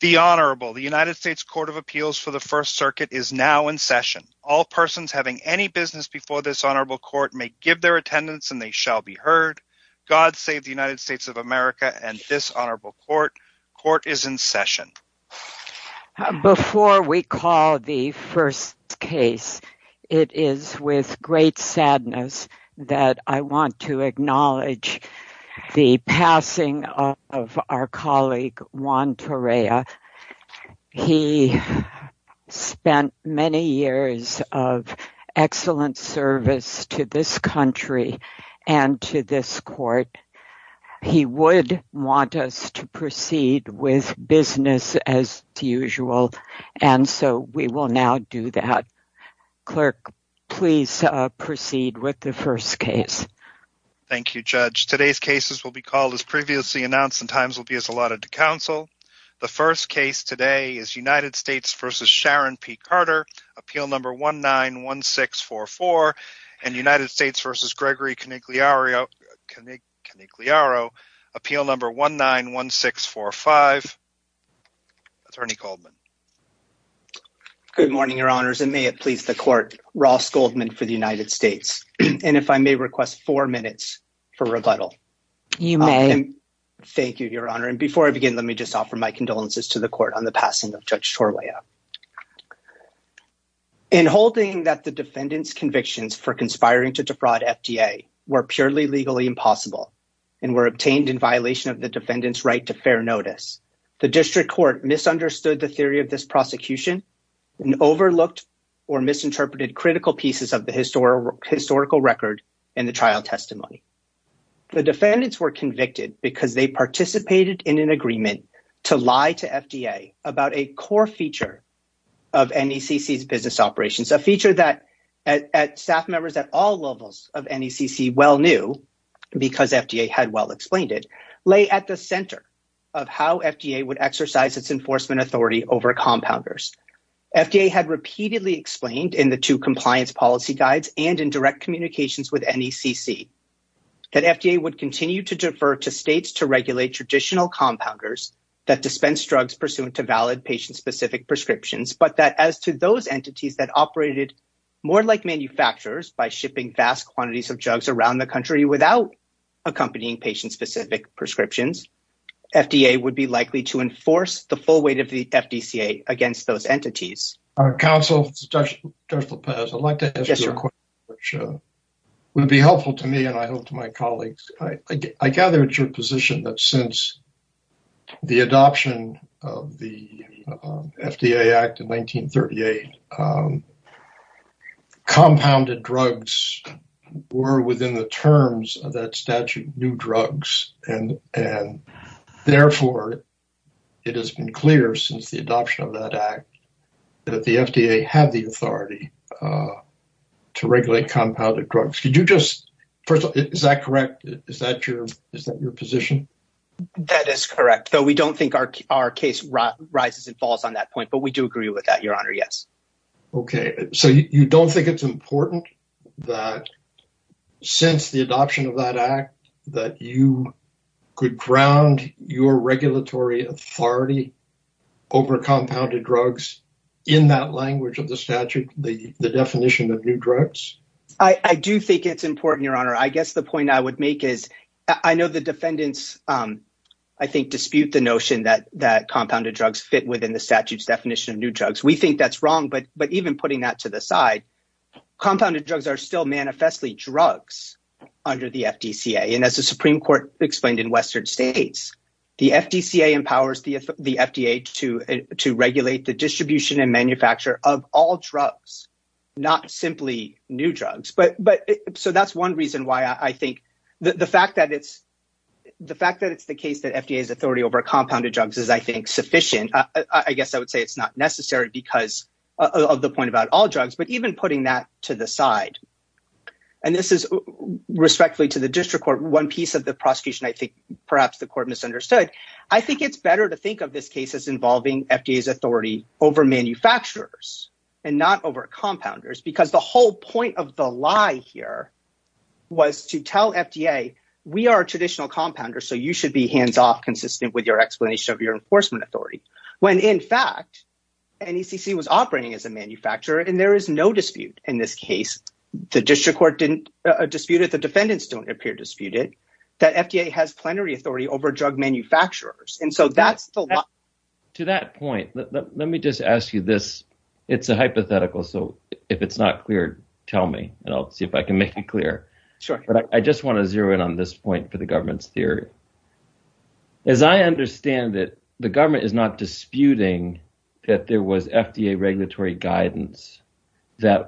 The Honorable, the United States Court of Appeals for the First Circuit is now in session. All persons having any business before this Honorable Court may give their attendance and they shall be heard. God save the United States of America and this Honorable Court. Court is in session. Before we call the first case, it is with great sadness that I want to acknowledge the passing of our colleague Juan Torrea. He spent many years of excellent service to this country and to this Court. He would want us to proceed with business as usual, and so we will now do that. Clerk, please proceed with the first case. Thank you, Judge. Today's cases will be called as previously announced and times will be as allotted to counsel. The first case today is United States v. Sharon P. Carter, appeal number 191644, and United States v. Gregory Canigliaro, appeal number 191645. Attorney Goldman. Good morning, Your Honors, and may it please the Court, Ross Goldman for the United States. And if I may request four minutes for rebuttal. You may. Thank you, Your Honor. And before I begin, let me just offer my condolences to the Court on the passing of Judge Torrea. In holding that the defendant's convictions for conspiring to defraud FDA were purely legally impossible and were obtained in violation of the defendant's right to fair notice, the District Court misunderstood the theory of this prosecution and overlooked or misinterpreted critical pieces of the historical record in the trial testimony. The defendants were convicted because they participated in an agreement to lie to FDA about a core feature of NECC's business operations, a feature that staff members at all levels of NECC well knew, because FDA had well explained it, lay at the center of how FDA would exercise its enforcement authority over compounders. FDA had repeatedly explained in the two compliance policy guides and in direct communications with NECC that FDA would continue to defer to states to regulate traditional compounders that dispense drugs pursuant to valid patient-specific prescriptions, but that as to those entities that operated more like manufacturers by shipping vast quantities of drugs around the country without accompanying patient-specific prescriptions, FDA would be likely to enforce the full weight of the FDCA against those entities. Counsel, Judge Lopez, I'd like to ask you a question which would be helpful to me and I hope to my colleagues. I gather it's your position that since the adoption of the FDA Act of 1938, compounded drugs were within the terms of that statute, new drugs, and therefore it has been clear since the adoption of that Act that the FDA had the authority to regulate compounded drugs. Is that correct? Is that your position? That is correct, though we don't think our case rises and falls on that point, but we do agree with that, Your Honor, yes. Okay, so you don't think it's important that since the adoption of that Act that you could ground your regulatory authority over compounded drugs in that language of the statute, the definition of new drugs? I do think it's important, Your Honor. I guess the point I would make is I know the defendants, I think, dispute the notion that compounded drugs fit within the statute's definition of new drugs. We think that's wrong, but even putting that to the side, compounded drugs are still manifestly drugs under the FDCA, and as the Supreme Court explained in Western states, the FDCA empowers the FDA to regulate the distribution and manufacture of all drugs, not simply new drugs. So that's one reason why I think the fact that it's the case that FDA's authority over compounded drugs is, I think, sufficient. I guess I would say it's not necessary because of the point about all drugs, but even putting that to the side, and this is respectfully to the district court, one piece of the prosecution I think perhaps the court misunderstood, I think it's better to think of this case as involving FDA's authority over manufacturers and not over compounders because the whole point of the lie here was to tell FDA, we are traditional compounders, so you should be hands-off consistent with your explanation of your enforcement authority, when in fact NECC was operating as a manufacturer and there is no dispute in this case. The district court didn't dispute it. The defendants don't appear disputed that FDA has plenary authority over drug manufacturers. To that point, let me just ask you this. It's a hypothetical, so if it's not clear, tell me, and I'll see if I can make it clear. I just want to zero in on this point for the government's theory. As I understand it, the government is not disputing that there was FDA regulatory guidance for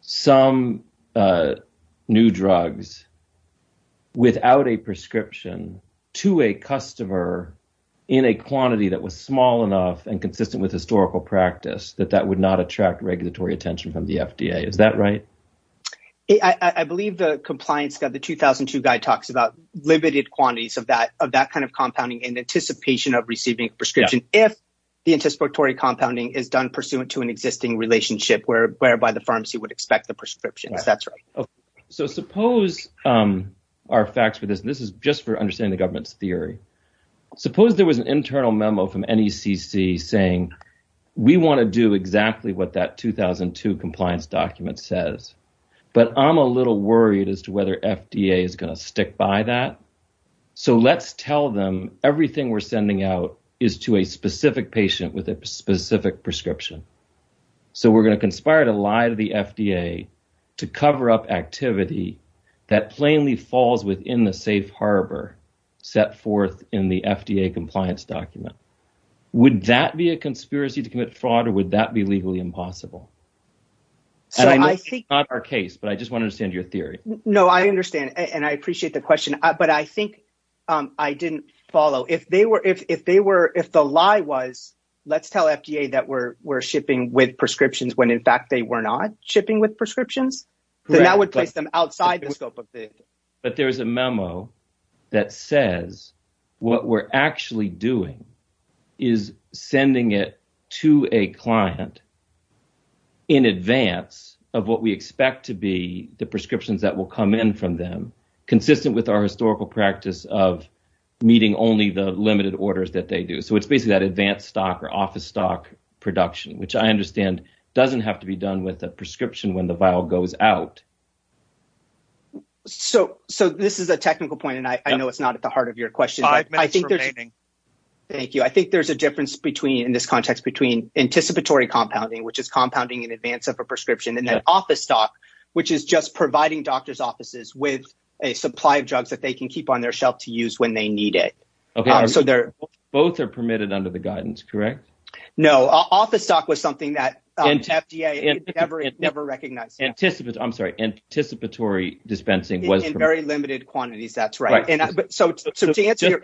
some new drugs without a prescription to a customer in a quantity that was small enough and consistent with historical practice that that would not attract regulatory attention from the FDA. Is that right? I believe the compliance guide, the 2002 guide, talks about limited quantities of that kind of compounding in anticipation of receiving a prescription if the anticipatory compounding is done by the firms who would expect the prescriptions. That's right. So suppose our facts for this, and this is just for understanding the government's theory. Suppose there was an internal memo from NECC saying, we want to do exactly what that 2002 compliance document says, but I'm a little worried as to whether FDA is going to stick by that. So let's tell them everything we're sending out is to a specific patient with a specific prescription. So we're going to conspire to lie to the FDA to cover up activity that plainly falls within the safe harbor set forth in the FDA compliance document. Would that be a conspiracy to commit fraud or would that be legally impossible? I think it's not our case, but I just want to understand your theory. No, I understand and I appreciate the question, but I think I didn't follow. If they were if they were if the lie was let's tell FDA that we're we're shipping with prescriptions when in fact they were not shipping with prescriptions, then that would place them outside the scope of the. But there is a memo that says what we're actually doing is sending it to a client. In advance of what we expect to be the prescriptions that will come in from them, consistent with our historical practice of meeting only the limited orders that they do. So it's basically that advanced stock or office stock production, which I understand doesn't have to be done with a prescription when the vial goes out. So so this is a technical point, and I know it's not at the heart of your question. I think there's. Thank you. I think there's a difference between in this context, between anticipatory compounding, which is compounding in advance of a prescription and then office stock, which is just providing doctors offices with a supply of drugs that they can keep on their shelf to use when they need it. OK. So they're both are permitted under the guidance. Correct. No. Office stock was something that FDA never, never recognized. Anticipate. I'm sorry. Anticipatory dispensing was very limited quantities. That's right. And so to answer.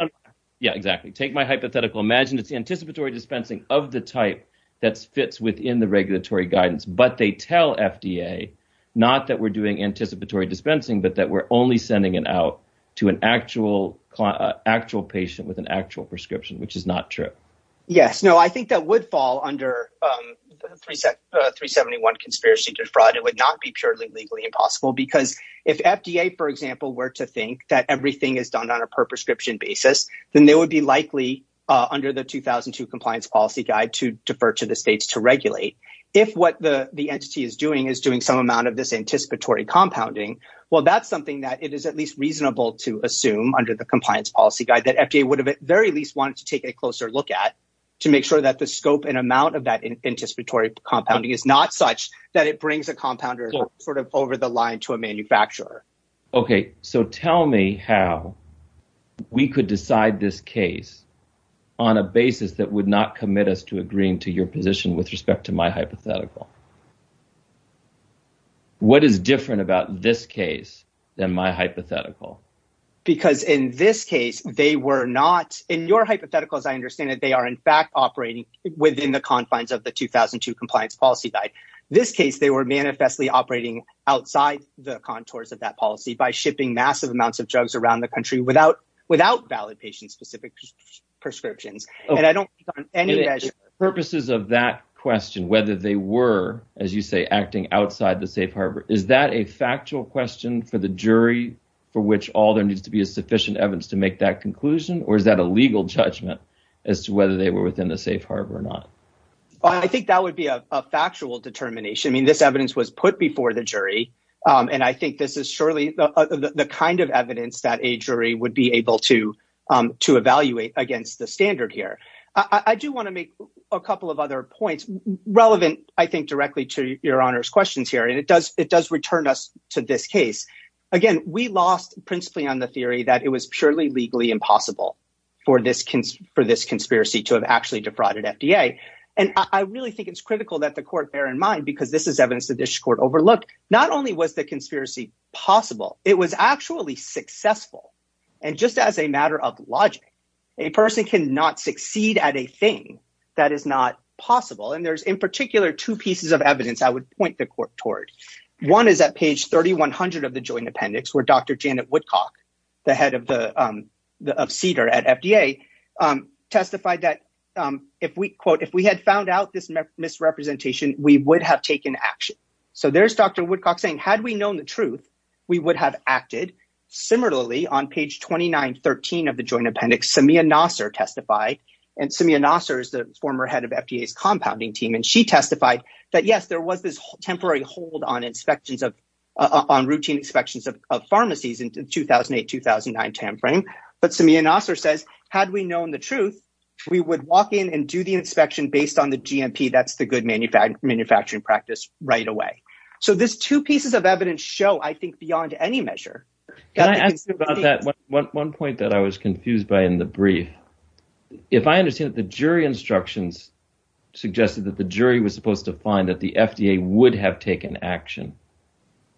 Yeah, exactly. Take my hypothetical. Imagine it's anticipatory dispensing of the type that fits within the regulatory guidance. But they tell FDA not that we're doing anticipatory dispensing, but that we're only sending it out to an actual client, actual patient with an actual prescription, which is not true. Yes. No, I think that would fall under three, three, 71 conspiracy to fraud. It would not be purely legally impossible because if FDA, for example, were to think that everything is done on a per prescription basis, then they would be likely under the 2002 compliance policy guide to defer to the states to regulate. If what the entity is doing is doing some amount of this anticipatory compounding. Well, that's something that it is at least reasonable to assume under the compliance policy guide that FDA would have at very least wanted to take a closer look at to make sure that the scope and amount of that anticipatory compounding is not such that it brings a compounder sort of over the line to a manufacturer. OK. So tell me how we could decide this case on a basis that would not commit us to agreeing to your position with respect to my hypothetical. What is different about this case than my hypothetical? Because in this case, they were not in your hypothetical, as I understand it, they are in fact operating within the confines of the 2002 compliance policy guide. This case, they were manifestly operating outside the contours of that policy by shipping massive amounts of drugs around the country without without valid patient specific prescriptions. Purposes of that question, whether they were, as you say, acting outside the safe harbor. Is that a factual question for the jury for which all there needs to be a sufficient evidence to make that conclusion? Or is that a legal judgment as to whether they were within the safe harbor or not? I think that would be a factual determination. I mean, this evidence was put before the jury. And I think this is surely the kind of evidence that a jury would be able to to evaluate against the standard here. I do want to make a couple of other points relevant, I think, directly to your honor's questions here. And it does it does return us to this case again. We lost principally on the theory that it was purely legally impossible for this for this conspiracy to have actually defrauded FDA. And I really think it's critical that the court bear in mind, because this is evidence that this court overlooked, not only was the conspiracy possible, it was actually successful. And just as a matter of logic, a person cannot succeed at a thing that is not possible. And there's in particular two pieces of evidence I would point the court toward. One is at page thirty one hundred of the joint appendix where Dr. Janet Woodcock, the head of the Cedar at FDA, testified that if we quote, if we had found out this misrepresentation, we would have taken action. So there's Dr. Woodcock saying, had we known the truth, we would have acted. Similarly, on page twenty nine, 13 of the joint appendix, Samia Nasser testified. And Samia Nasser is the former head of FDA's compounding team. And she testified that, yes, there was this temporary hold on inspections of on routine inspections of pharmacies in 2008, 2009 timeframe. But Samia Nasser says, had we known the truth, we would walk in and do the inspection based on the GMP. That's the good manufacturing manufacturing practice right away. So there's two pieces of evidence show, I think, beyond any measure. Can I ask you about that? One point that I was confused by in the brief, if I understand that the jury instructions suggested that the jury was supposed to find that the FDA would have taken action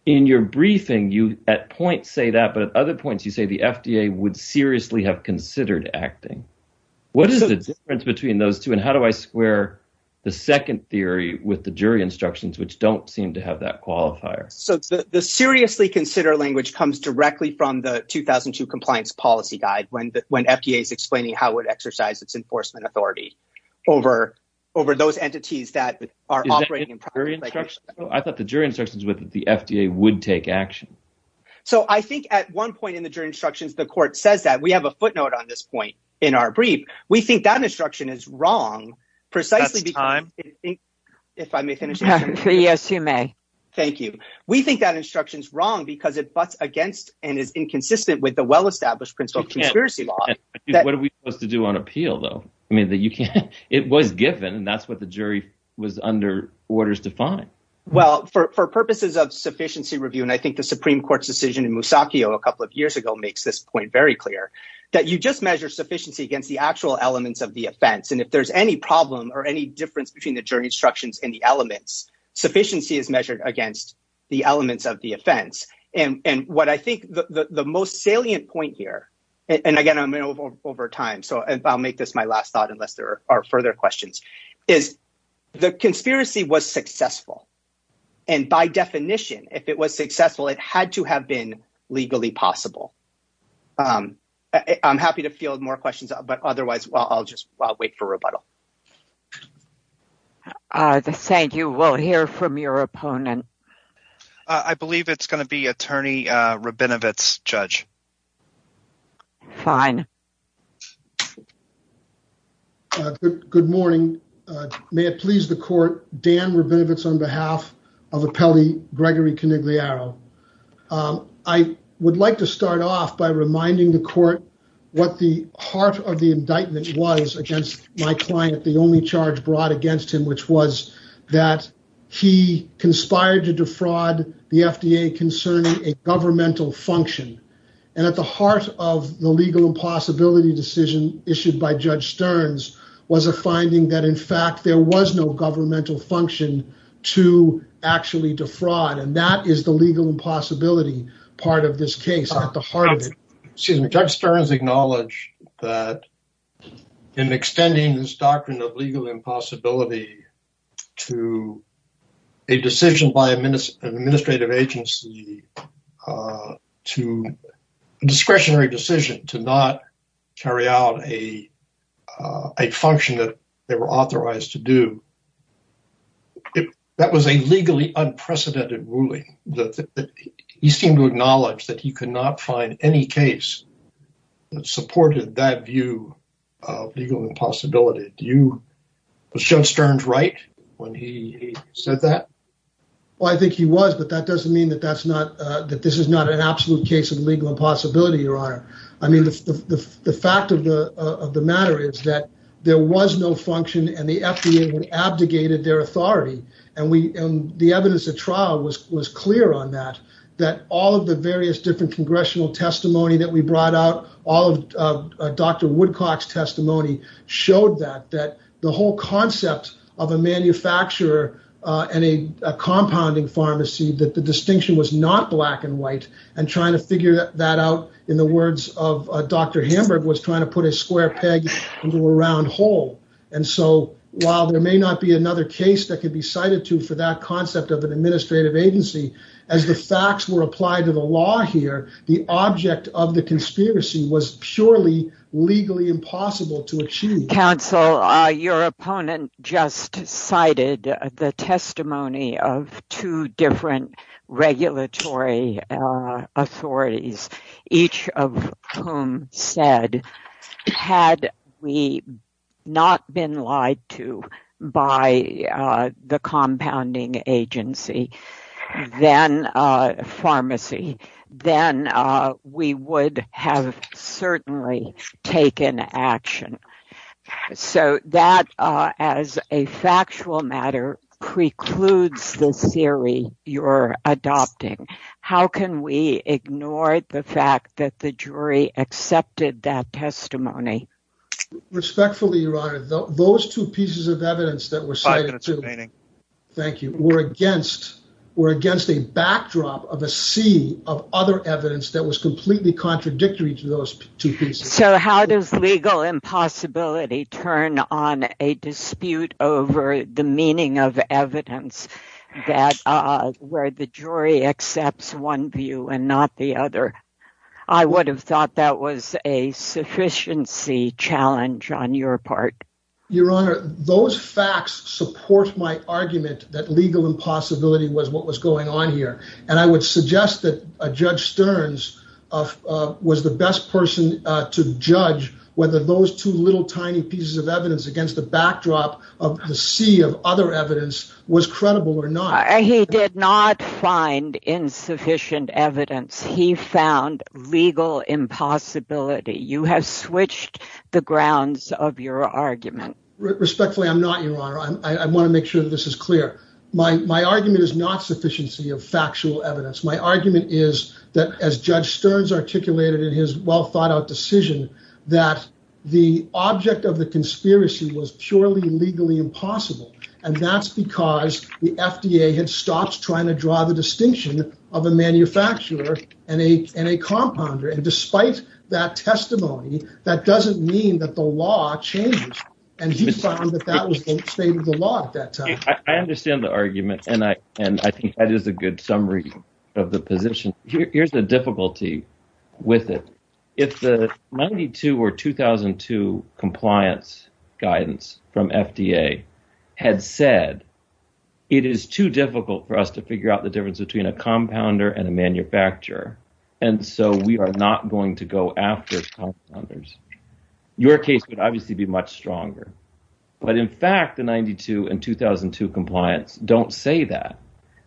in your briefing, you at point say that. But at other points, you say the FDA would seriously have considered acting. What is the difference between those two and how do I square the second theory with the jury instructions, which don't seem to have that qualifier? So the seriously consider language comes directly from the 2002 compliance policy guide. When the when FDA is explaining how it exercise its enforcement authority over over those entities that are operating. I thought the jury instructions with the FDA would take action. So I think at one point in the jury instructions, the court says that we have a footnote on this point in our brief. We think that instruction is wrong, precisely because if I may finish. Yes, you may. Thank you. We think that instruction is wrong because it butts against and is inconsistent with the well-established principle of conspiracy law. What are we supposed to do on appeal, though? I mean, you can't. It was given and that's what the jury was under orders to find. Well, for purposes of sufficiency review, and I think the Supreme Court's decision in Musaki a couple of years ago makes this point very clear that you just measure sufficiency against the actual elements of the offense. And if there's any problem or any difference between the jury instructions and the elements, sufficiency is measured against the elements of the offense. And what I think the most salient point here, and again, I'm in over time, so I'll make this my last thought unless there are further questions, is the conspiracy was successful. And by definition, if it was successful, it had to have been legally possible. I'm happy to field more questions, but otherwise, well, I'll just wait for rebuttal. Thank you. We'll hear from your opponent. I believe it's going to be Attorney Rabinowitz, Judge. Fine. Good morning. May it please the court, Dan Rabinowitz on behalf of the Pele, Gregory Canigliaro. I would like to start off by reminding the court what the heart of the indictment was against my client, the only charge brought against him, which was that he conspired to defraud the FDA concerning a governmental function. And at the heart of the legal impossibility decision issued by Judge Stearns was a finding that, in fact, there was no governmental function to actually defraud. And that is the legal impossibility part of this case at the heart of it. Excuse me, Judge Stearns acknowledged that in extending this doctrine of legal impossibility to a decision by an administrative agency to discretionary decision to not carry out a function that they were authorized to do. That was a legally unprecedented ruling. He seemed to acknowledge that he could not find any case that supported that view of legal impossibility. Was Judge Stearns right when he said that? Well, I think he was, but that doesn't mean that this is not an absolute case of legal impossibility, Your Honor. I mean, the fact of the matter is that there was no function and the FDA abdicated their authority. And the evidence at trial was clear on that, that all of the various different congressional testimony that we brought out, all of Dr. Woodcock's testimony showed that, that the whole concept of a manufacturer and a compounding pharmacy, that the distinction was not black and white. And trying to figure that out, in the words of Dr. Hamburg, was trying to put a square peg into a round hole. And so, while there may not be another case that could be cited to for that concept of an administrative agency, as the facts were applied to the law here, the object of the conspiracy was surely legally impossible to achieve. Counsel, your opponent just cited the testimony of two different regulatory authorities, each of whom said, had we not been lied to by the compounding pharmacy, then we would have certainly taken action. So that, as a factual matter, precludes the theory you're adopting. How can we ignore the fact that the jury accepted that testimony? Respectfully, Your Honor, those two pieces of evidence that were cited were against a backdrop of a sea of other evidence that was completely contradictory to those two pieces. So how does legal impossibility turn on a dispute over the meaning of evidence where the jury accepts one view and not the other? I would have thought that was a sufficiency challenge on your part. Your Honor, those facts support my argument that legal impossibility was what was going on here. And I would suggest that Judge Stearns was the best person to judge whether those two little tiny pieces of evidence against the backdrop of the sea of other evidence was credible or not. He did not find insufficient evidence. He found legal impossibility. You have switched the grounds of your argument. Respectfully, I'm not, Your Honor. I want to make sure that this is clear. My argument is not sufficiency of factual evidence. My argument is that, as Judge Stearns articulated in his well-thought-out decision, that the object of the conspiracy was purely legally impossible. And that's because the FDA had stopped trying to draw the distinction of a manufacturer and a compounder. And despite that testimony, that doesn't mean that the law changes. And he found that that was the state of the law at that time. I understand the argument, and I think that is a good summary of the position. Here's the difficulty with it. If the 92 or 2002 compliance guidance from FDA had said it is too difficult for us to figure out the difference between a compounder and a manufacturer, and so we are not going to go after compounders, your case would obviously be much stronger. But in fact, the 92 and 2002 compliance don't say that.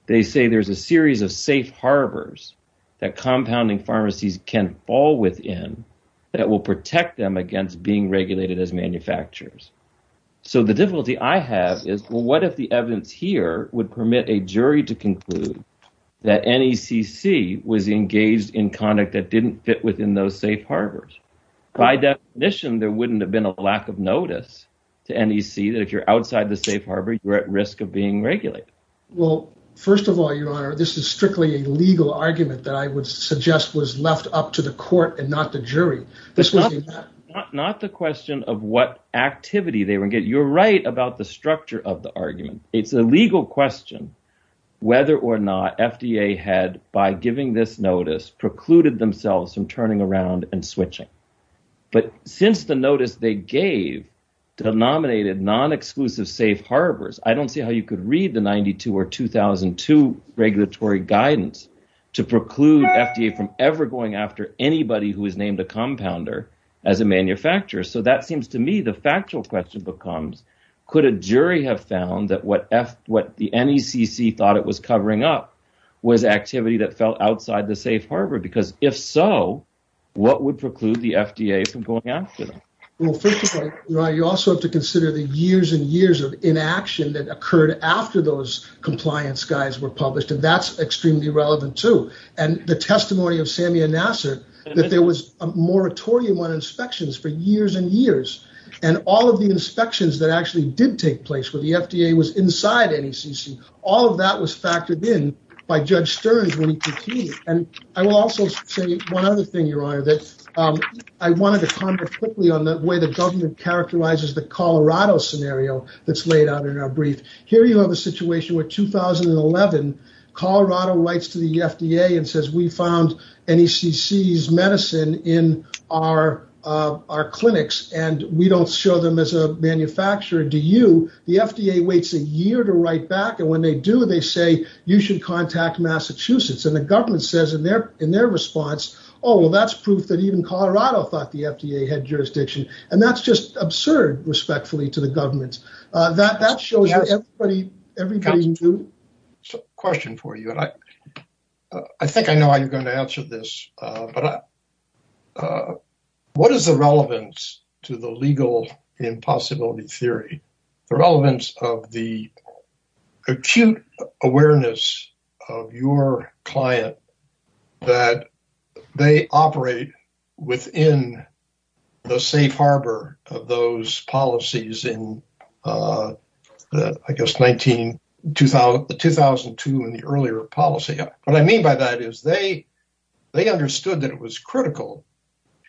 They say there's a series of safe harbors that compounding pharmacies can fall within that will protect them against being regulated as manufacturers. So the difficulty I have is, well, what if the evidence here would permit a jury to conclude that NECC was engaged in conduct that didn't fit within those safe harbors? By definition, there wouldn't have been a lack of notice to NEC that if you're outside the safe harbor, you're at risk of being regulated. Well, first of all, your honor, this is strictly a legal argument that I would suggest was left up to the court and not the jury. This was not the question of what activity they would get. You're right about the structure of the argument. It's a legal question whether or not FDA had, by giving this notice, precluded themselves from turning around and switching. But since the notice they gave denominated non-exclusive safe harbors. I don't see how you could read the 92 or 2002 regulatory guidance to preclude FDA from ever going after anybody who is named a compounder as a manufacturer. So that seems to me the factual question becomes, could a jury have found that what the NECC thought it was covering up was activity that fell outside the safe harbor? Because if so, what would preclude the FDA from going after them? Well, first of all, you also have to consider the years and years of inaction that occurred after those compliance guides were published. And that's extremely relevant, too. And the testimony of Samia Nasser, that there was a moratorium on inspections for years and years. And all of the inspections that actually did take place with the FDA was inside NECC. All of that was factored in by Judge Stearns. And I will also say one other thing, Your Honor, that I wanted to comment quickly on the way the government characterizes the Colorado scenario that's laid out in our brief. Here you have a situation where 2011, Colorado writes to the FDA and says, we found NECC's medicine in our clinics and we don't show them as a manufacturer, do you? The FDA waits a year to write back. And when they do, they say, you should contact Massachusetts. And the government says in their response, oh, well, that's proof that even Colorado thought the FDA had jurisdiction. And that's just absurd, respectfully, to the government. That shows everybody. Question for you, and I think I know how you're going to answer this, but what is the relevance to the legal impossibility theory? The relevance of the acute awareness of your client that they operate within the safe harbor of those policies in, I guess, 2002 and the earlier policy. What I mean by that is they understood that it was critical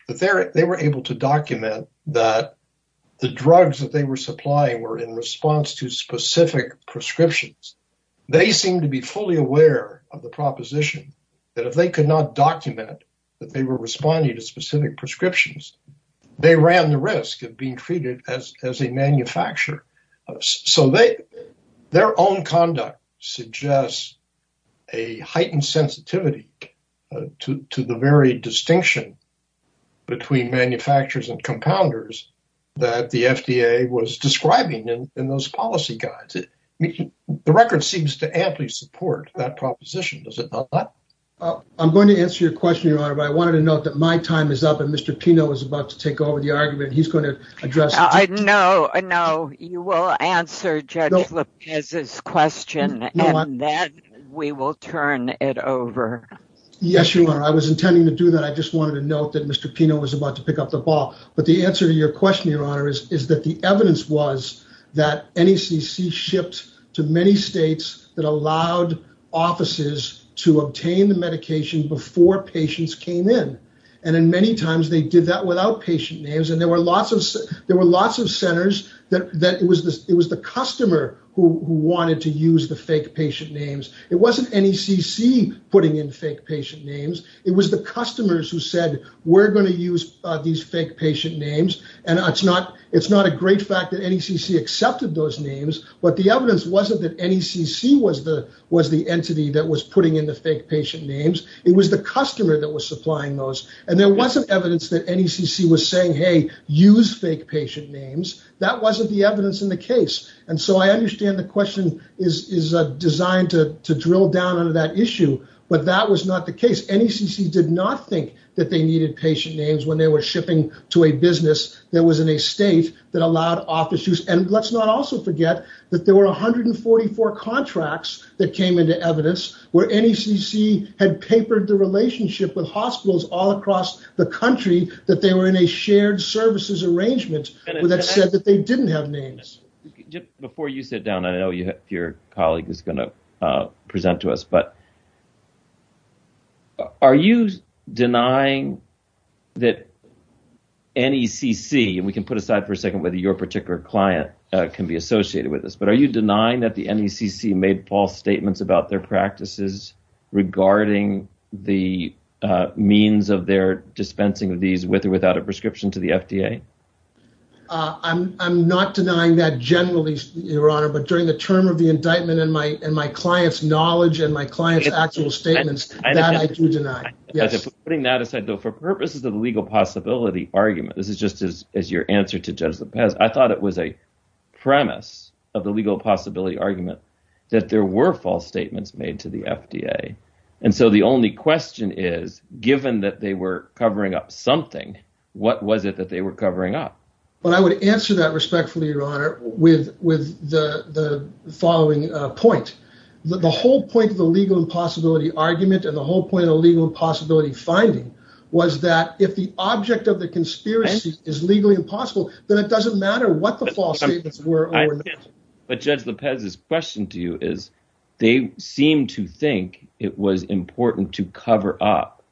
that they were able to document that the drugs that they were supplying were in response to specific prescriptions. They seem to be fully aware of the proposition that if they could not document that they were responding to specific prescriptions, they ran the risk of being treated as a manufacturer. So their own conduct suggests a heightened sensitivity to the very distinction between manufacturers and compounders that the FDA was describing in those policy guides. The record seems to amply support that proposition, does it not? I'm going to answer your question, Your Honor, but I wanted to note that my time is up and Mr. Pino is about to take over the argument. No, you will answer Judge Lopez's question and then we will turn it over. Yes, Your Honor. I was intending to do that. I just wanted to note that Mr. Pino was about to pick up the ball. But the answer to your question, Your Honor, is that the evidence was that NECC shipped to many states that allowed offices to obtain the medication before patients came in. And many times they did that without patient names and there were lots of centers that it was the customer who wanted to use the fake patient names. It wasn't NECC putting in fake patient names. It was the customers who said, we're going to use these fake patient names. And it's not a great fact that NECC accepted those names, but the evidence wasn't that NECC was the entity that was putting in the fake patient names. It was the customer that was supplying those. And there wasn't evidence that NECC was saying, hey, use fake patient names. That wasn't the evidence in the case. And so I understand the question is designed to drill down on that issue. But that was not the case. NECC did not think that they needed patient names when they were shipping to a business that was in a state that allowed office use. And let's not also forget that there were 144 contracts that came into evidence where NECC had papered the relationship with hospitals all across the country that they were in a shared services arrangement that said that they didn't have names. Before you sit down, I know your colleague is going to present to us, but are you denying that NECC and we can put aside for a second whether your particular client can be associated with this, but are you denying that the NECC made false statements about their practices regarding the means of their dispensing of these with or without a prescription to the FDA? I'm not denying that generally, Your Honor, but during the term of the indictment and my and my client's knowledge and my client's actual statements that I do deny. Yes. Putting that aside, though, for purposes of the legal possibility argument, this is just as your answer to Judge Lopez. I thought it was a premise of the legal possibility argument that there were false statements made to the FDA. And so the only question is, given that they were covering up something, what was it that they were covering up? But I would answer that respectfully, Your Honor, with with the following point. The whole point of the legal impossibility argument and the whole point of legal possibility finding was that if the object of the conspiracy is legally impossible, then it doesn't matter what the false statements were. But Judge Lopez's question to you is they seem to think it was important to cover up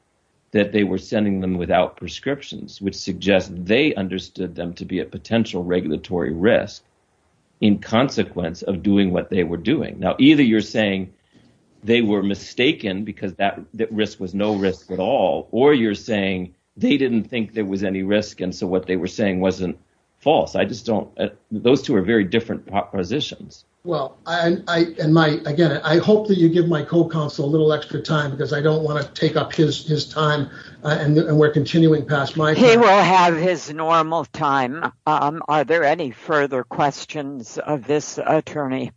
that they were sending them without prescriptions, which suggests they understood them to be a potential regulatory risk in consequence of doing what they were doing. Now, either you're saying they were mistaken because that risk was no risk at all, or you're saying they didn't think there was any risk. And so what they were saying wasn't false. I just don't. Those two are very different positions. Well, I and my again, I hope that you give my co-counsel a little extra time because I don't want to take up his time. And we're continuing past my. He will have his normal time. Are there any further questions of this attorney?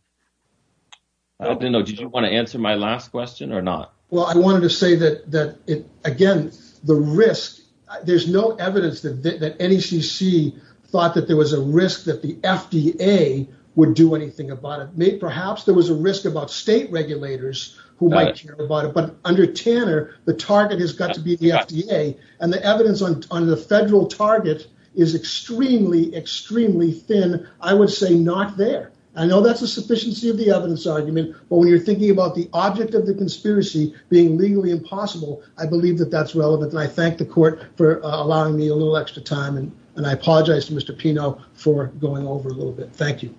I don't know. Did you want to answer my last question or not? Well, I wanted to say that that again, the risk. There's no evidence that the NECC thought that there was a risk that the FDA would do anything about it. May perhaps there was a risk about state regulators who might care about it. But under Tanner, the target has got to be the FDA and the evidence on the federal target is extremely, extremely thin. I would say not there. I know that's a sufficiency of the evidence argument. But when you're thinking about the object of the conspiracy being legally impossible, I believe that that's relevant. And I thank the court for allowing me a little extra time. And I apologize to Mr. Pino for going over a little bit. Thank you.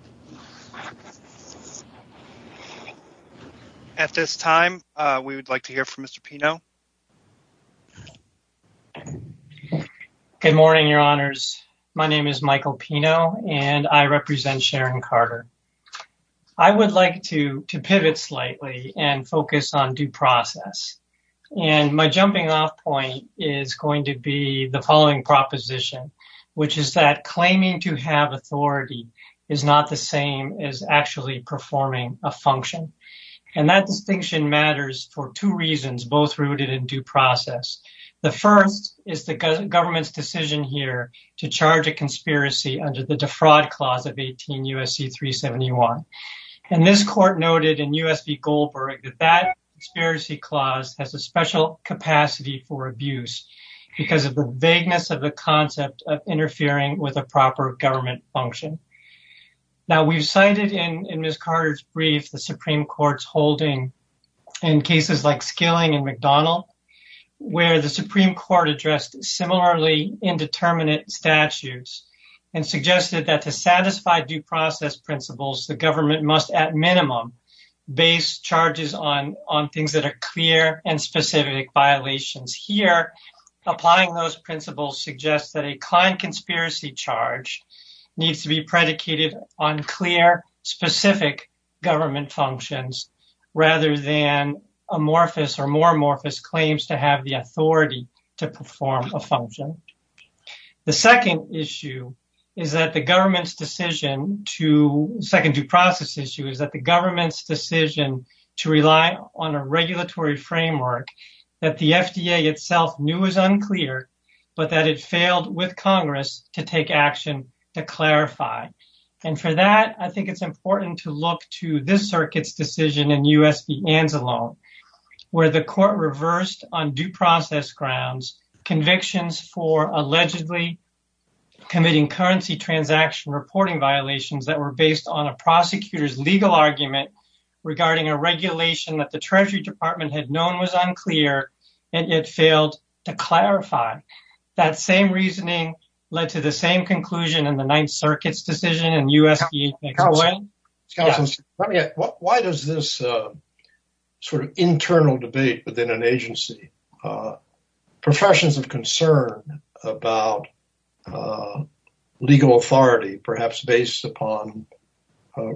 At this time, we would like to hear from Mr. Pino. Good morning, your honors. My name is Michael Pino and I represent Sharon Carter. I would like to to pivot slightly and focus on due process. And my jumping off point is going to be the following proposition, which is that claiming to have authority is not the same as actually performing a function. And that distinction matters for two reasons, both rooted in due process. The first is the government's decision here to charge a conspiracy under the defraud clause of 18 U.S.C. 371. And this court noted in U.S.V. Goldberg that that conspiracy clause has a special capacity for abuse because of the vagueness of the concept of interfering with a proper government function. Now, we've cited in Ms. Carter's brief, the Supreme Court's holding in cases like Skilling and McDonald, where the Supreme Court addressed similarly indeterminate statutes and suggested that to satisfy due process principles, the government must at minimum base charges on on things that are clear and specific violations here. Applying those principles suggests that a client conspiracy charge needs to be predicated on clear, specific government functions rather than amorphous or more amorphous claims to have the authority to perform a function. The second issue is that the government's decision to second due process issue is that the government's decision to rely on a regulatory framework that the FDA itself knew was unclear, but that it failed with Congress to take action to clarify. And for that, I think it's important to look to this circuit's decision in U.S.V. Anzalone, where the court reversed on due process grounds convictions for allegedly committing currency transaction reporting violations that were based on a prosecutor's legal argument regarding a regulation that the Treasury Department had known was unclear and it failed to clarify. That same reasoning led to the same conclusion in the Ninth Circuit's decision in U.S.V. Anzalone. Why does this sort of internal debate within an agency, professions of concern about legal authority, perhaps based upon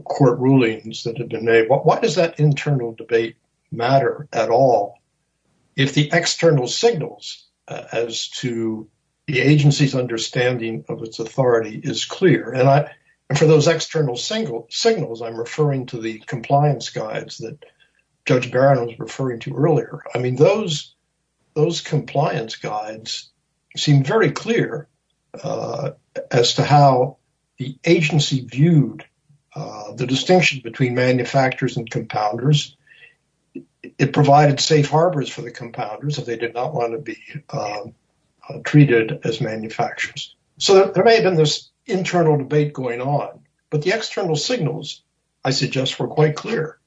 court rulings that have been made, why does that internal debate matter at all if the external signals as to the agency's understanding of its authority is clear? And for those external signals, I'm referring to the compliance guides that Judge Barron was referring to earlier. I mean, those compliance guides seem very clear as to how the agency viewed the distinction between manufacturers and compounders. It provided safe harbors for the compounders if they did not want to be treated as manufacturers. So there may have been this internal debate going on, but the external signals, I suggest, were quite clear.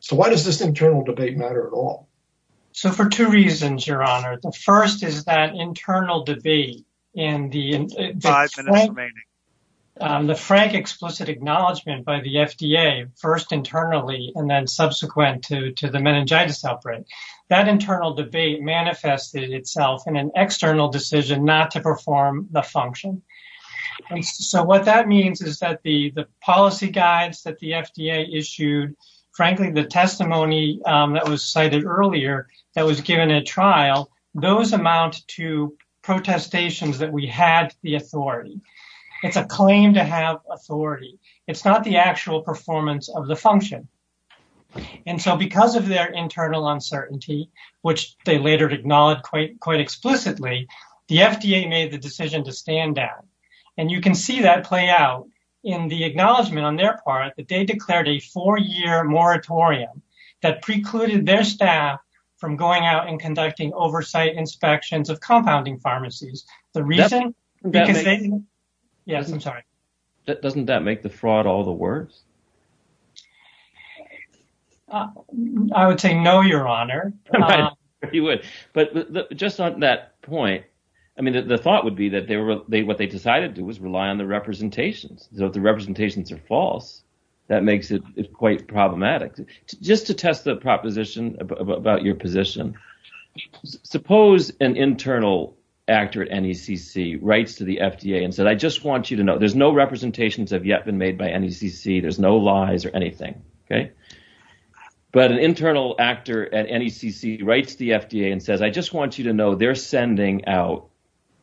So why does this internal debate matter at all? So for two reasons, Your Honor. The first is that internal debate in the five minutes remaining. The frank, explicit acknowledgement by the FDA, first internally and then subsequent to the meningitis outbreak, that internal debate manifested itself in an external decision not to perform the function. So what that means is that the policy guides that the FDA issued, frankly, the testimony that was cited earlier that was given at trial, those amount to protestations that we had the authority. It's a claim to have authority. It's not the actual performance of the function. And so because of their internal uncertainty, which they later acknowledged quite explicitly, the FDA made the decision to stand down. And you can see that play out in the acknowledgement on their part that they declared a four-year moratorium that precluded their staff from going out and conducting oversight inspections of compounding pharmacies. Doesn't that make the fraud all the worse? I would say no, Your Honor. But just on that point, I mean, the thought would be that what they decided to do was rely on the representations. So the representations are false. That makes it quite problematic. Just to test the proposition about your position, suppose an internal actor at NECC writes to the FDA and said, I just want you to know there's no representations have yet been made by NECC. There's no lies or anything. But an internal actor at NECC writes to the FDA and says, I just want you to know they're sending out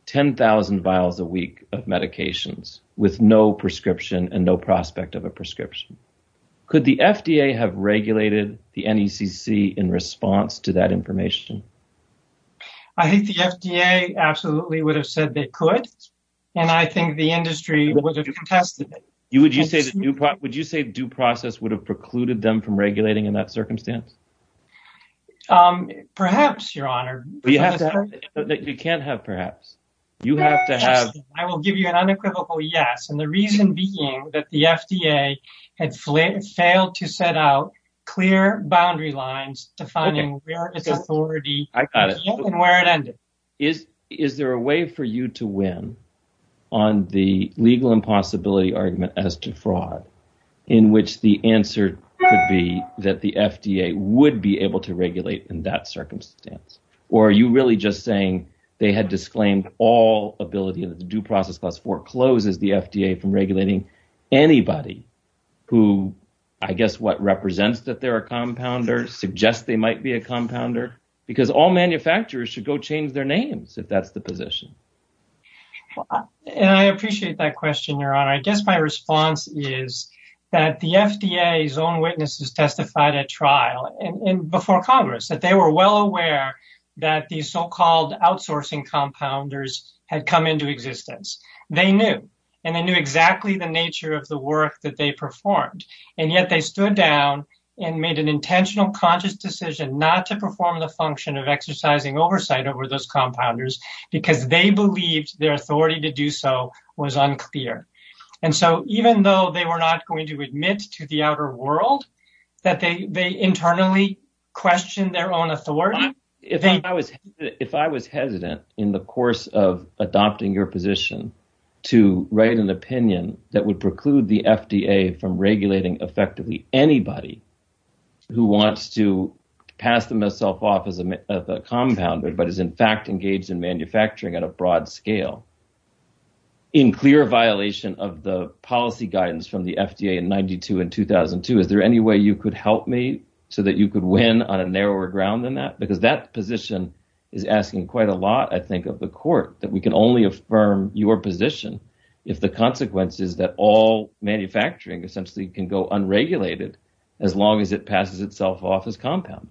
10,000 vials a week of medications with no prescription and no prospect of a prescription. Could the FDA have regulated the NECC in response to that information? I think the FDA absolutely would have said they could. And I think the industry would have contested it. Would you say due process would have precluded them from regulating in that circumstance? Perhaps, Your Honor. You can't have perhaps. You have to have. I will give you an unequivocal yes. And the reason being that the FDA had failed to set out clear boundary lines defining where its authority is and where it ended. Is there a way for you to win on the legal impossibility argument as to fraud in which the answer could be that the FDA would be able to regulate in that circumstance? Or are you really just saying they had disclaimed all ability to do process for closes the FDA from regulating anybody who I guess what represents that there are compounders suggest they might be a compounder because all manufacturers should go change their names if that's the position. And I appreciate that question. I guess my response is that the FDA's own witnesses testified at trial and before Congress that they were well aware that the so-called outsourcing compounders had come into existence. And they knew exactly the nature of the work that they performed. And yet they stood down and made an intentional conscious decision not to perform the function of exercising oversight over those compounders because they believed their authority to do so was unclear. And so even though they were not going to admit to the outer world that they internally question their own authority. If I was hesitant in the course of adopting your position to write an opinion that would preclude the FDA from regulating effectively anybody who wants to pass themselves off as a compounder but is in fact engaged in manufacturing at a broad scale. In clear violation of the policy guidance from the FDA in 92 and 2002. Is there any way you could help me so that you could win on a narrower ground than that? Because that position is asking quite a lot I think of the court that we can only affirm your position if the consequences that all manufacturing essentially can go unregulated as long as it passes itself off as compound.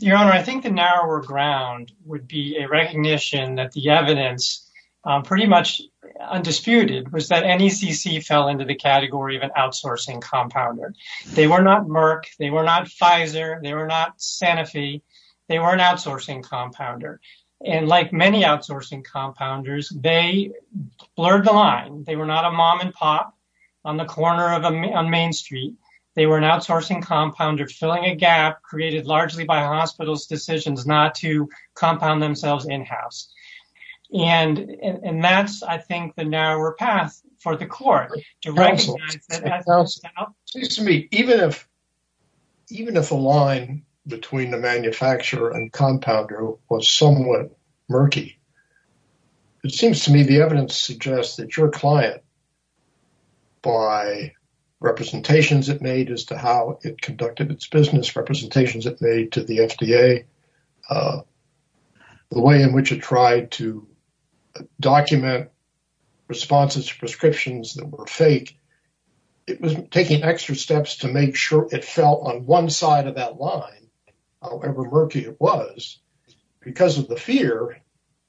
Your Honor, I think the narrower ground would be a recognition that the evidence pretty much undisputed was that NECC fell into the category of an outsourcing compounder. They were not Merck. They were not Pfizer. They were not Sanofi. They were an outsourcing compounder. And like many outsourcing compounders, they blurred the line. They were not a mom and pop on the corner of Main Street. They were an outsourcing compounder filling a gap created largely by hospitals' decisions not to compound themselves in-house. And that's I think the narrower path for the court. It seems to me even if a line between the manufacturer and compounder was somewhat murky, it seems to me the evidence suggests that your client by representations it made as to how it conducted its business, representations it made to the FDA, the way in which it tried to document responses to prescriptions that were false, it was taking extra steps to make sure it fell on one side of that line, however murky it was, because of the fear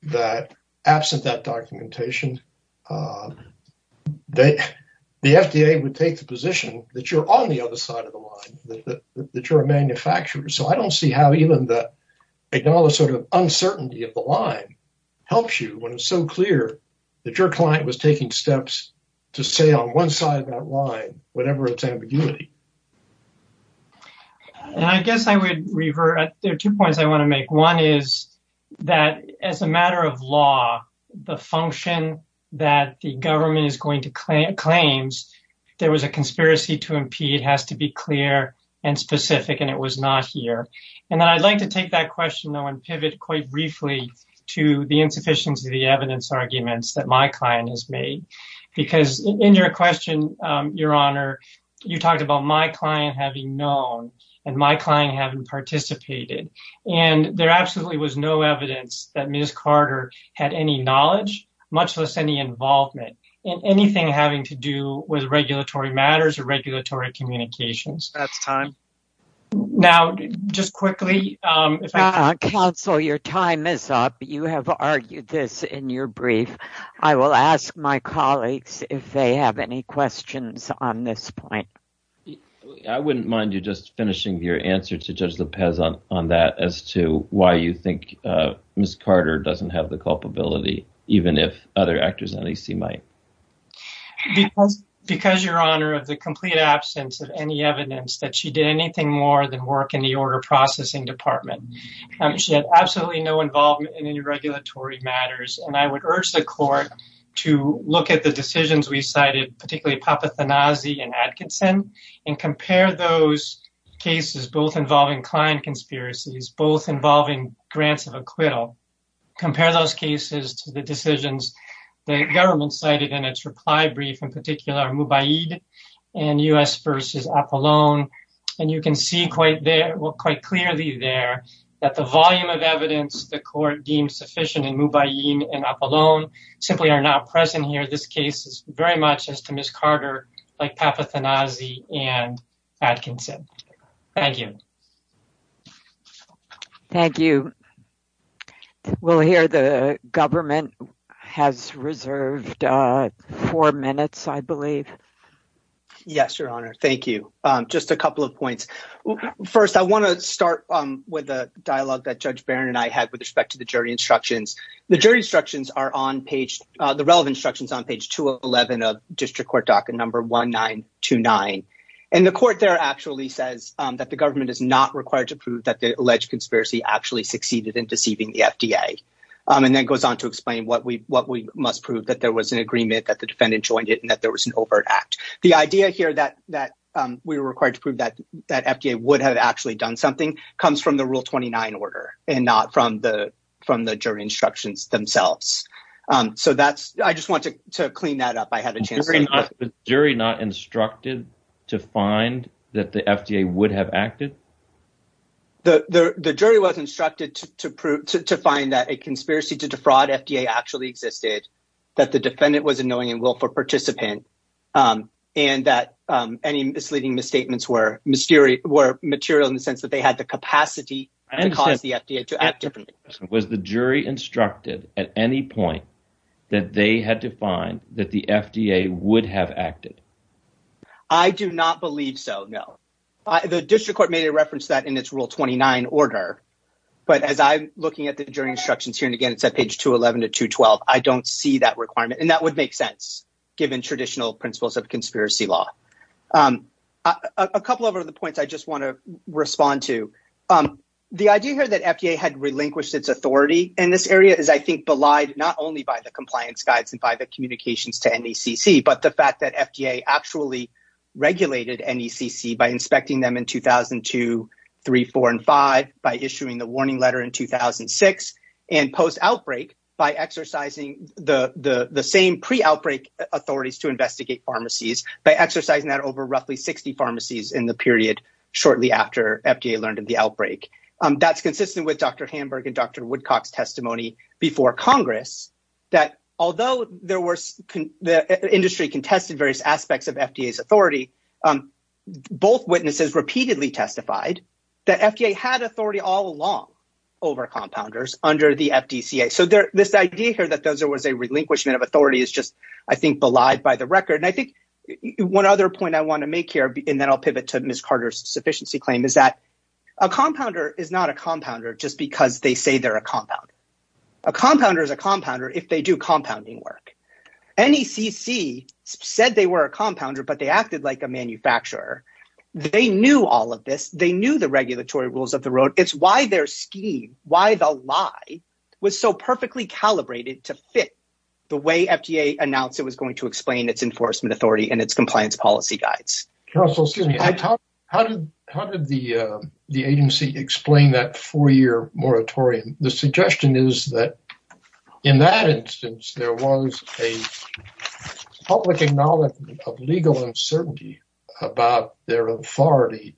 that absent that documentation, the FDA would take the position that you're on the other side of the line, that you're a manufacturer. So I don't see how even the acknowledged sort of uncertainty of the line helps you when it's so clear that your client was taking steps to stay on one side of that line, whatever its ambiguity. And I guess I would revert, there are two points I want to make. One is that as a matter of law, the function that the government is going to claim, claims there was a conspiracy to impede has to be clear and specific and it was not here. And I'd like to take that question though and pivot quite briefly to the insufficiency of the evidence arguments that my client has made, because in your question, Your Honor, you talked about my client having known, and my client having participated, and there absolutely was no evidence that Ms. Carter had any knowledge, much less any involvement in anything having to do with regulatory matters or regulatory communications. That's time. Now, just quickly. Counsel, your time is up. You have argued this in your brief. I will ask my colleagues if they have any questions on this point. I wouldn't mind you just finishing your answer to judge the peasant on that as to why you think Ms. Carter doesn't have the culpability, even if other actors in AC might. Because, Your Honor, of the complete absence of any evidence that she did anything more than work in the order processing department. She had absolutely no involvement in any regulatory matters, and I would urge the court to look at the decisions we cited, particularly Papathanasi and Atkinson, and compare those cases, both involving client conspiracies, both involving grants of acquittal. Compare those cases to the decisions the government cited in its reply brief, in particular Mubaid and U.S. v. Apollon, and you can see quite clearly there that the volume of evidence the court deemed sufficient in Mubaid and Apollon simply are not present here. This case is very much as to Ms. Carter like Papathanasi and Atkinson. Thank you. Thank you. We'll hear the government has reserved four minutes, I believe. Yes, Your Honor. Thank you. Just a couple of points. First, I want to start with a dialogue that Judge Barron and I had with respect to the jury instructions. The jury instructions are on page, the relevant instructions on page 211 of District Court docket number 1929. And the court there actually says that the government is not required to prove that the alleged conspiracy actually succeeded in deceiving the FDA. And then goes on to explain what we must prove, that there was an agreement, that the defendant joined it, and that there was an overt act. The idea here that we were required to prove that FDA would have actually done something comes from the Rule 29 order and not from the jury instructions themselves. So that's, I just wanted to clean that up. I had a chance. Was the jury not instructed to find that the FDA would have acted? The jury was instructed to find that a conspiracy to defraud FDA actually existed, that the defendant was a knowing and willful participant, and that any misleading misstatements were material in the sense that they had the capacity to cause the FDA to act differently. Was the jury instructed at any point that they had to find that the FDA would have acted? I do not believe so, no. The District Court made a reference to that in its Rule 29 order. But as I'm looking at the jury instructions here, and again, it's at page 211 to 212, I don't see that requirement. And that would make sense, given traditional principles of conspiracy law. A couple of other points I just want to respond to. The idea here that FDA had relinquished its authority in this area is, I think, belied not only by the compliance guides and by the communications to NECC, but the fact that FDA actually regulated NECC by inspecting them in 2002, 3, 4, and 5, by issuing the warning letter in 2006, and post-outbreak by exercising the same pre-outbreak authorities to investigate pharmacies, by exercising that over roughly 60 pharmacies in the period shortly after FDA learned of the outbreak. That's consistent with Dr. Hamburg and Dr. Woodcock's testimony before Congress, that although the industry contested various aspects of FDA's authority, both witnesses repeatedly testified that FDA had authority all along over compounders under the FDCA. So this idea here that there was a relinquishment of authority is just, I think, belied by the record. And I think one other point I want to make here, and then I'll pivot to Ms. Carter's sufficiency claim, is that a compounder is not a compounder just because they say they're a compounder. A compounder is a compounder if they do compounding work. NECC said they were a compounder, but they acted like a manufacturer. They knew all of this. They knew the regulatory rules of the road. It's why their scheme, why the lie, was so perfectly calibrated to fit the way FDA announced it was going to explain its enforcement authority and its compliance policy guides. Counsel, excuse me. How did the agency explain that four-year moratorium? The suggestion is that in that instance, there was a public acknowledgment of legal uncertainty about their authority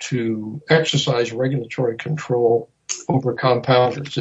to exercise regulatory control over compounders.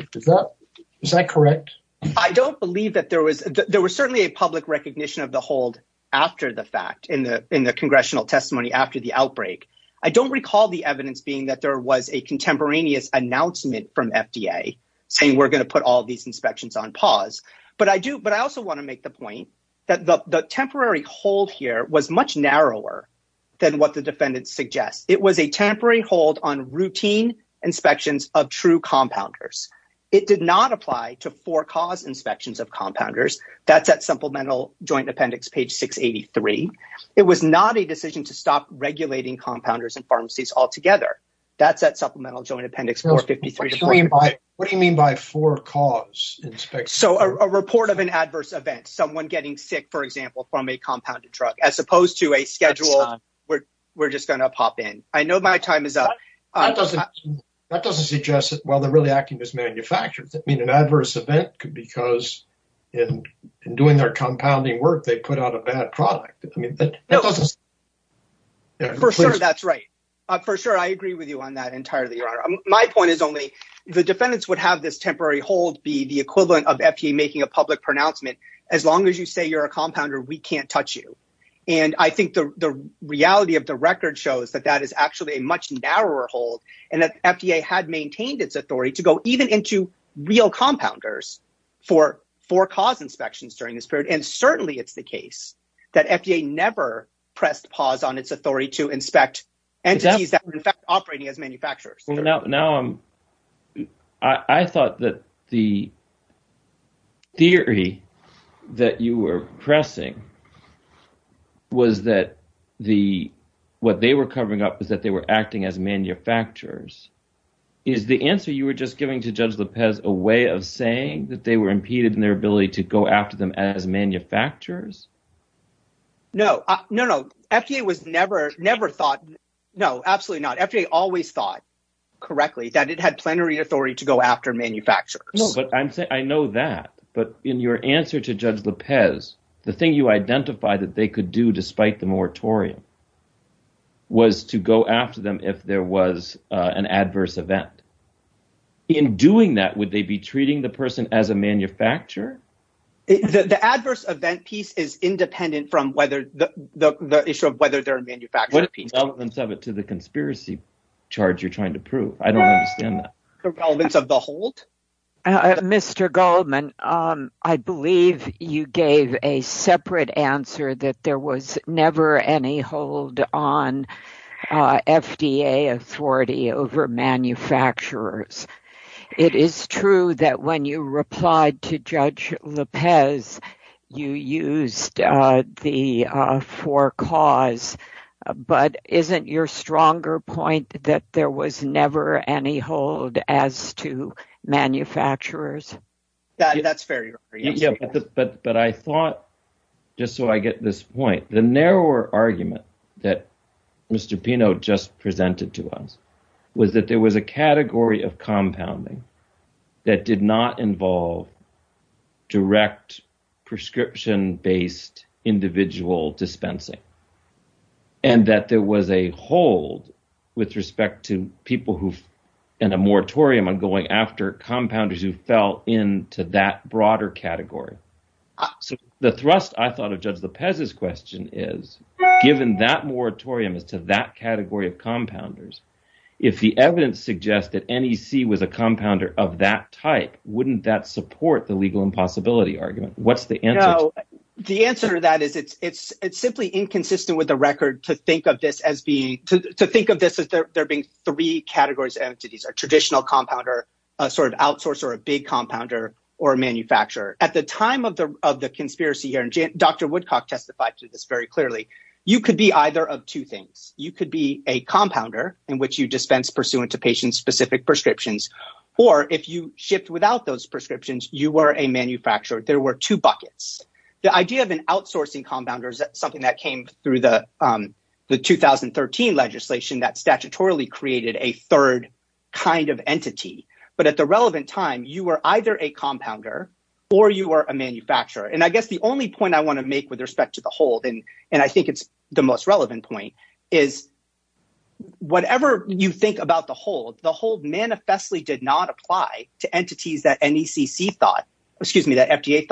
Is that correct? I don't believe that there was – there was certainly a public recognition of the hold after the fact in the congressional testimony after the outbreak. I don't recall the evidence being that there was a contemporaneous announcement from FDA saying we're going to put all these inspections on pause. But I do – but I also want to make the point that the temporary hold here was much narrower than what the defendants suggest. It was a temporary hold on routine inspections of true compounders. It did not apply to for-cause inspections of compounders. That's at Supplemental Joint Appendix, page 683. It was not a decision to stop regulating compounders and pharmacies altogether. That's at Supplemental Joint Appendix 453. What do you mean by for-cause inspections? So a report of an adverse event, someone getting sick, for example, from a compounded truck, as opposed to a schedule where we're just going to pop in. I know my time is up. That doesn't – that doesn't suggest that, well, they're really acting as manufacturers. I mean, an adverse event could be because in doing their compounding work, they put out a bad product. I mean, that doesn't – For sure, that's right. For sure, I agree with you on that entirely, Your Honor. My point is only the defendants would have this temporary hold be the equivalent of FDA making a public pronouncement. As long as you say you're a compounder, we can't touch you. And I think the reality of the record shows that that is actually a much narrower hold and that FDA had maintained its authority to go even into real compounders for for-cause inspections during this period. And certainly it's the case that FDA never pressed pause on its authority to inspect entities that were in fact operating as manufacturers. Well, now I'm – I thought that the theory that you were pressing was that the – what they were covering up was that they were acting as manufacturers. Is the answer you were just giving to Judge Lopez a way of saying that they were impeded in their ability to go after them as manufacturers? No. No, no. FDA was never – never thought – no, absolutely not. Correctly, that it had plenary authority to go after manufacturers. No, but I'm saying – I know that. But in your answer to Judge Lopez, the thing you identified that they could do despite the moratorium was to go after them if there was an adverse event. In doing that, would they be treating the person as a manufacturer? The adverse event piece is independent from whether – the issue of whether they're a manufacturer piece. The relevance of it to the conspiracy charge you're trying to prove. I don't understand that. The relevance of the hold? Mr. Goldman, I believe you gave a separate answer that there was never any hold on FDA authority over manufacturers. It is true that when you replied to Judge Lopez, you used the for cause, but isn't your stronger point that there was never any hold as to manufacturers? That's fair. But I thought, just so I get this point, the narrower argument that Mr. Pino just presented to us was that there was a category of compounding that did not involve direct prescription-based individual dispensing. And that there was a hold with respect to people in a moratorium on going after compounders who fell into that broader category. So the thrust I thought of Judge Lopez's question is given that moratorium is to that category of compounders, if the evidence suggests that NEC was a compounder of that type, wouldn't that support the legal impossibility argument? What's the answer? The answer to that is it's simply inconsistent with the record to think of this as there being three categories of entities. A traditional compounder, a sort of outsourcer, a big compounder, or a manufacturer. At the time of the conspiracy here, and Dr. Woodcock testified to this very clearly, you could be either of two things. You could be a compounder in which you dispense pursuant to patient-specific prescriptions. Or if you shipped without those prescriptions, you were a manufacturer. There were two buckets. The idea of an outsourcing compounder is something that came through the 2013 legislation that statutorily created a third kind of entity. But at the relevant time, you were either a compounder or you were a manufacturer. I guess the only point I want to make with respect to the hold, and I think it's the most relevant point, is whatever you think about the hold, the hold manifestly did not apply to entities that FDA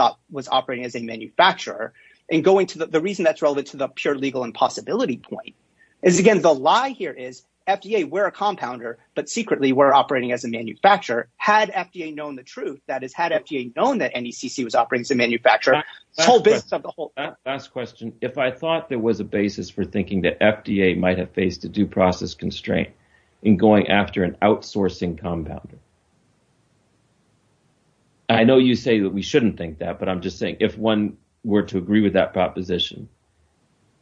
thought was operating as a manufacturer. The reason that's relevant to the pure legal impossibility point is, again, the lie here is FDA were a compounder, but secretly were operating as a manufacturer. Had FDA known the truth, that is, had FDA known that NECC was operating as a manufacturer, this whole business of the hold— Last question. If I thought there was a basis for thinking that FDA might have faced a due process constraint in going after an outsourcing compounder, I know you say that we shouldn't think that, but I'm just saying, if one were to agree with that proposition,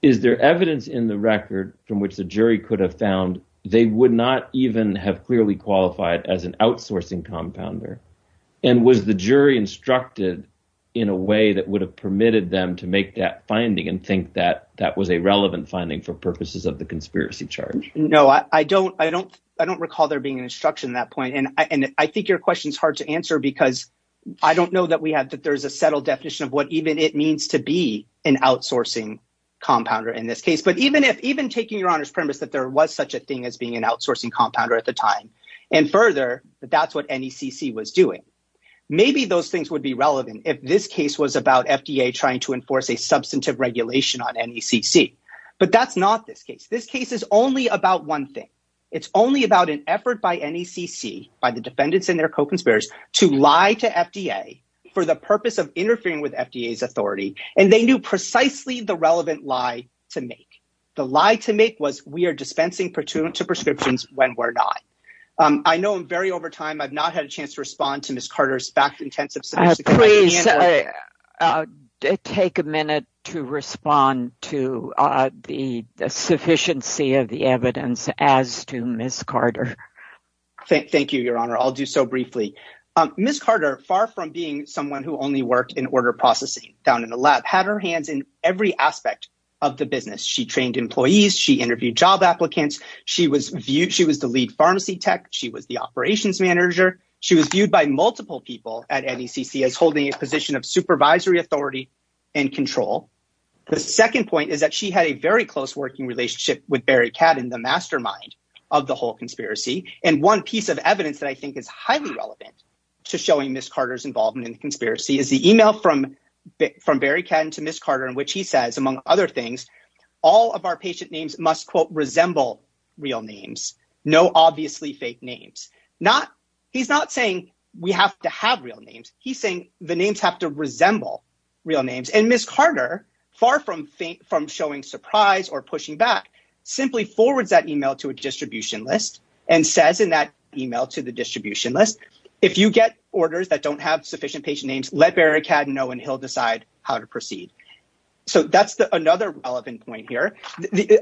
is there evidence in the record from which the jury could have found they would not even have clearly qualified as an outsourcing compounder? And was the jury instructed in a way that would have permitted them to make that finding and think that that was a relevant finding for purposes of the conspiracy charge? No, I don't recall there being an instruction at that point, and I think your question is hard to answer because I don't know that there's a settled definition of what even it means to be an outsourcing compounder in this case. But even taking your Honor's premise that there was such a thing as being an outsourcing compounder at the time, and further, that that's what NECC was doing, maybe those things would be relevant if this case was about FDA trying to enforce a substantive regulation on NECC. But that's not this case. This case is only about one thing. It's only about an effort by NECC, by the defendants and their co-conspirators, to lie to FDA for the purpose of interfering with FDA's authority, and they knew precisely the relevant lie to make. The lie to make was we are dispensing to prescriptions when we're not. I know I'm very over time. I've not had a chance to respond to Ms. Carter's back intensive. Please take a minute to respond to the sufficiency of the evidence as to Ms. Carter. Thank you, Your Honor. I'll do so briefly. Ms. Carter, far from being someone who only worked in order processing down in the lab, had her hands in every aspect of the business. She trained employees. She interviewed job applicants. She was the lead pharmacy tech. She was the operations manager. She was viewed by multiple people at NECC as holding a position of supervisory authority and control. The second point is that she had a very close working relationship with Barry Cadden, the mastermind of the whole conspiracy. And one piece of evidence that I think is highly relevant to showing Ms. Carter's involvement in the conspiracy is the email from Barry Cadden to Ms. Carter in which he says, among other things, all of our patient names must, quote, resemble real names. No obviously fake names. He's not saying we have to have real names. He's saying the names have to resemble real names. And Ms. Carter, far from showing surprise or pushing back, simply forwards that email to a distribution list and says in that email to the distribution list, if you get orders that don't have sufficient patient names, let Barry Cadden know and he'll decide how to proceed. So that's another relevant point here.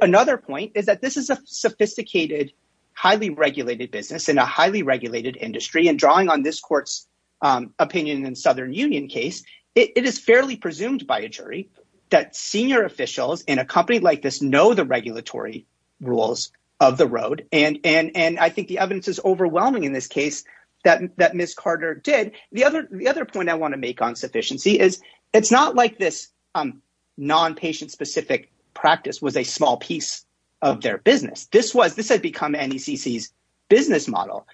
Another point is that this is a sophisticated, highly regulated business in a highly regulated industry. And drawing on this court's opinion in the Southern Union case, it is fairly presumed by a jury that senior officials in a company like this know the regulatory rules of the road. And I think the evidence is overwhelming in this case that Ms. Carter did. The other point I want to make on sufficiency is it's not like this non-patient specific practice was a small piece of their business. This had become NECC's business model.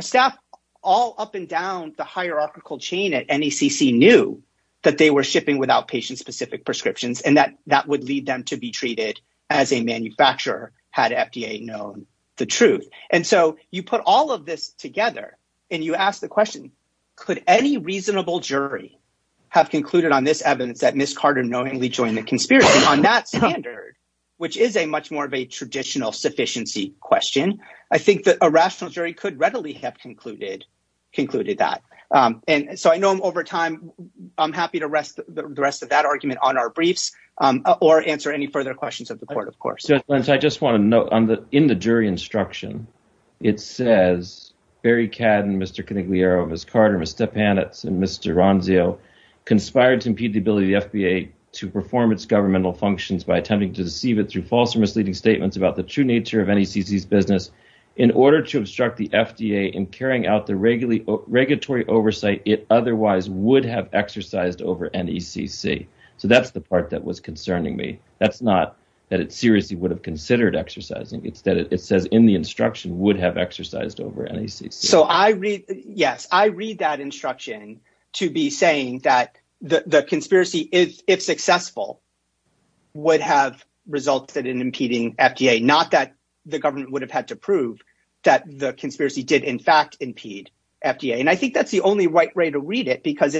Staff all up and down the hierarchical chain at NECC knew that they were shipping without patient specific prescriptions and that that would lead them to be treated as a manufacturer had FDA known the truth. And so you put all of this together and you ask the question, could any reasonable jury have concluded on this evidence that Ms. Carter knowingly joined the conspiracy on that standard, which is a much more of a traditional sufficiency question? I think that a rational jury could readily have concluded concluded that. And so I know I'm over time. I'm happy to rest the rest of that argument on our briefs or answer any further questions of the court, of course. I just want to note in the jury instruction, it says Barry Cadden, Mr. Canigliaro, Ms. Carter, Mr. Panitz, and Mr. Ronzio conspired to impede the ability of the FDA to perform its governmental functions by attempting to deceive it through false or misleading statements about the true nature of NECC's business in order to obstruct the FDA in carrying out the regulatory oversight it otherwise would have exercised over NECC. So that's the part that was concerning me. That's not that it seriously would have considered exercising. It's that it says in the instruction would have exercised over NECC. Yes, I read that instruction to be saying that the conspiracy, if successful, would have resulted in impeding FDA, not that the government would have had to prove that the conspiracy did, in fact, impede FDA. And I think that's the only right way to read it, because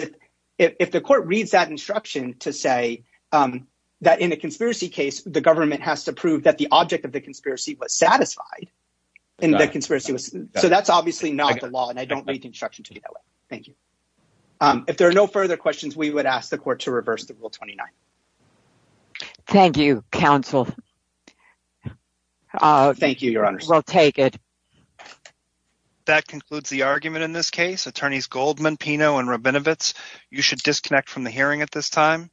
if the court reads that instruction to say that in a conspiracy case, the government has to prove that the object of the conspiracy was satisfied in the conspiracy. So that's obviously not the law. And I don't read the instruction to be that way. Thank you. If there are no further questions, we would ask the court to reverse the Rule 29. Thank you, counsel. Thank you, Your Honor. We'll take it. That concludes the argument in this case. Attorneys Goldman, Pino, and Rabinowitz, you should disconnect from the hearing at this time.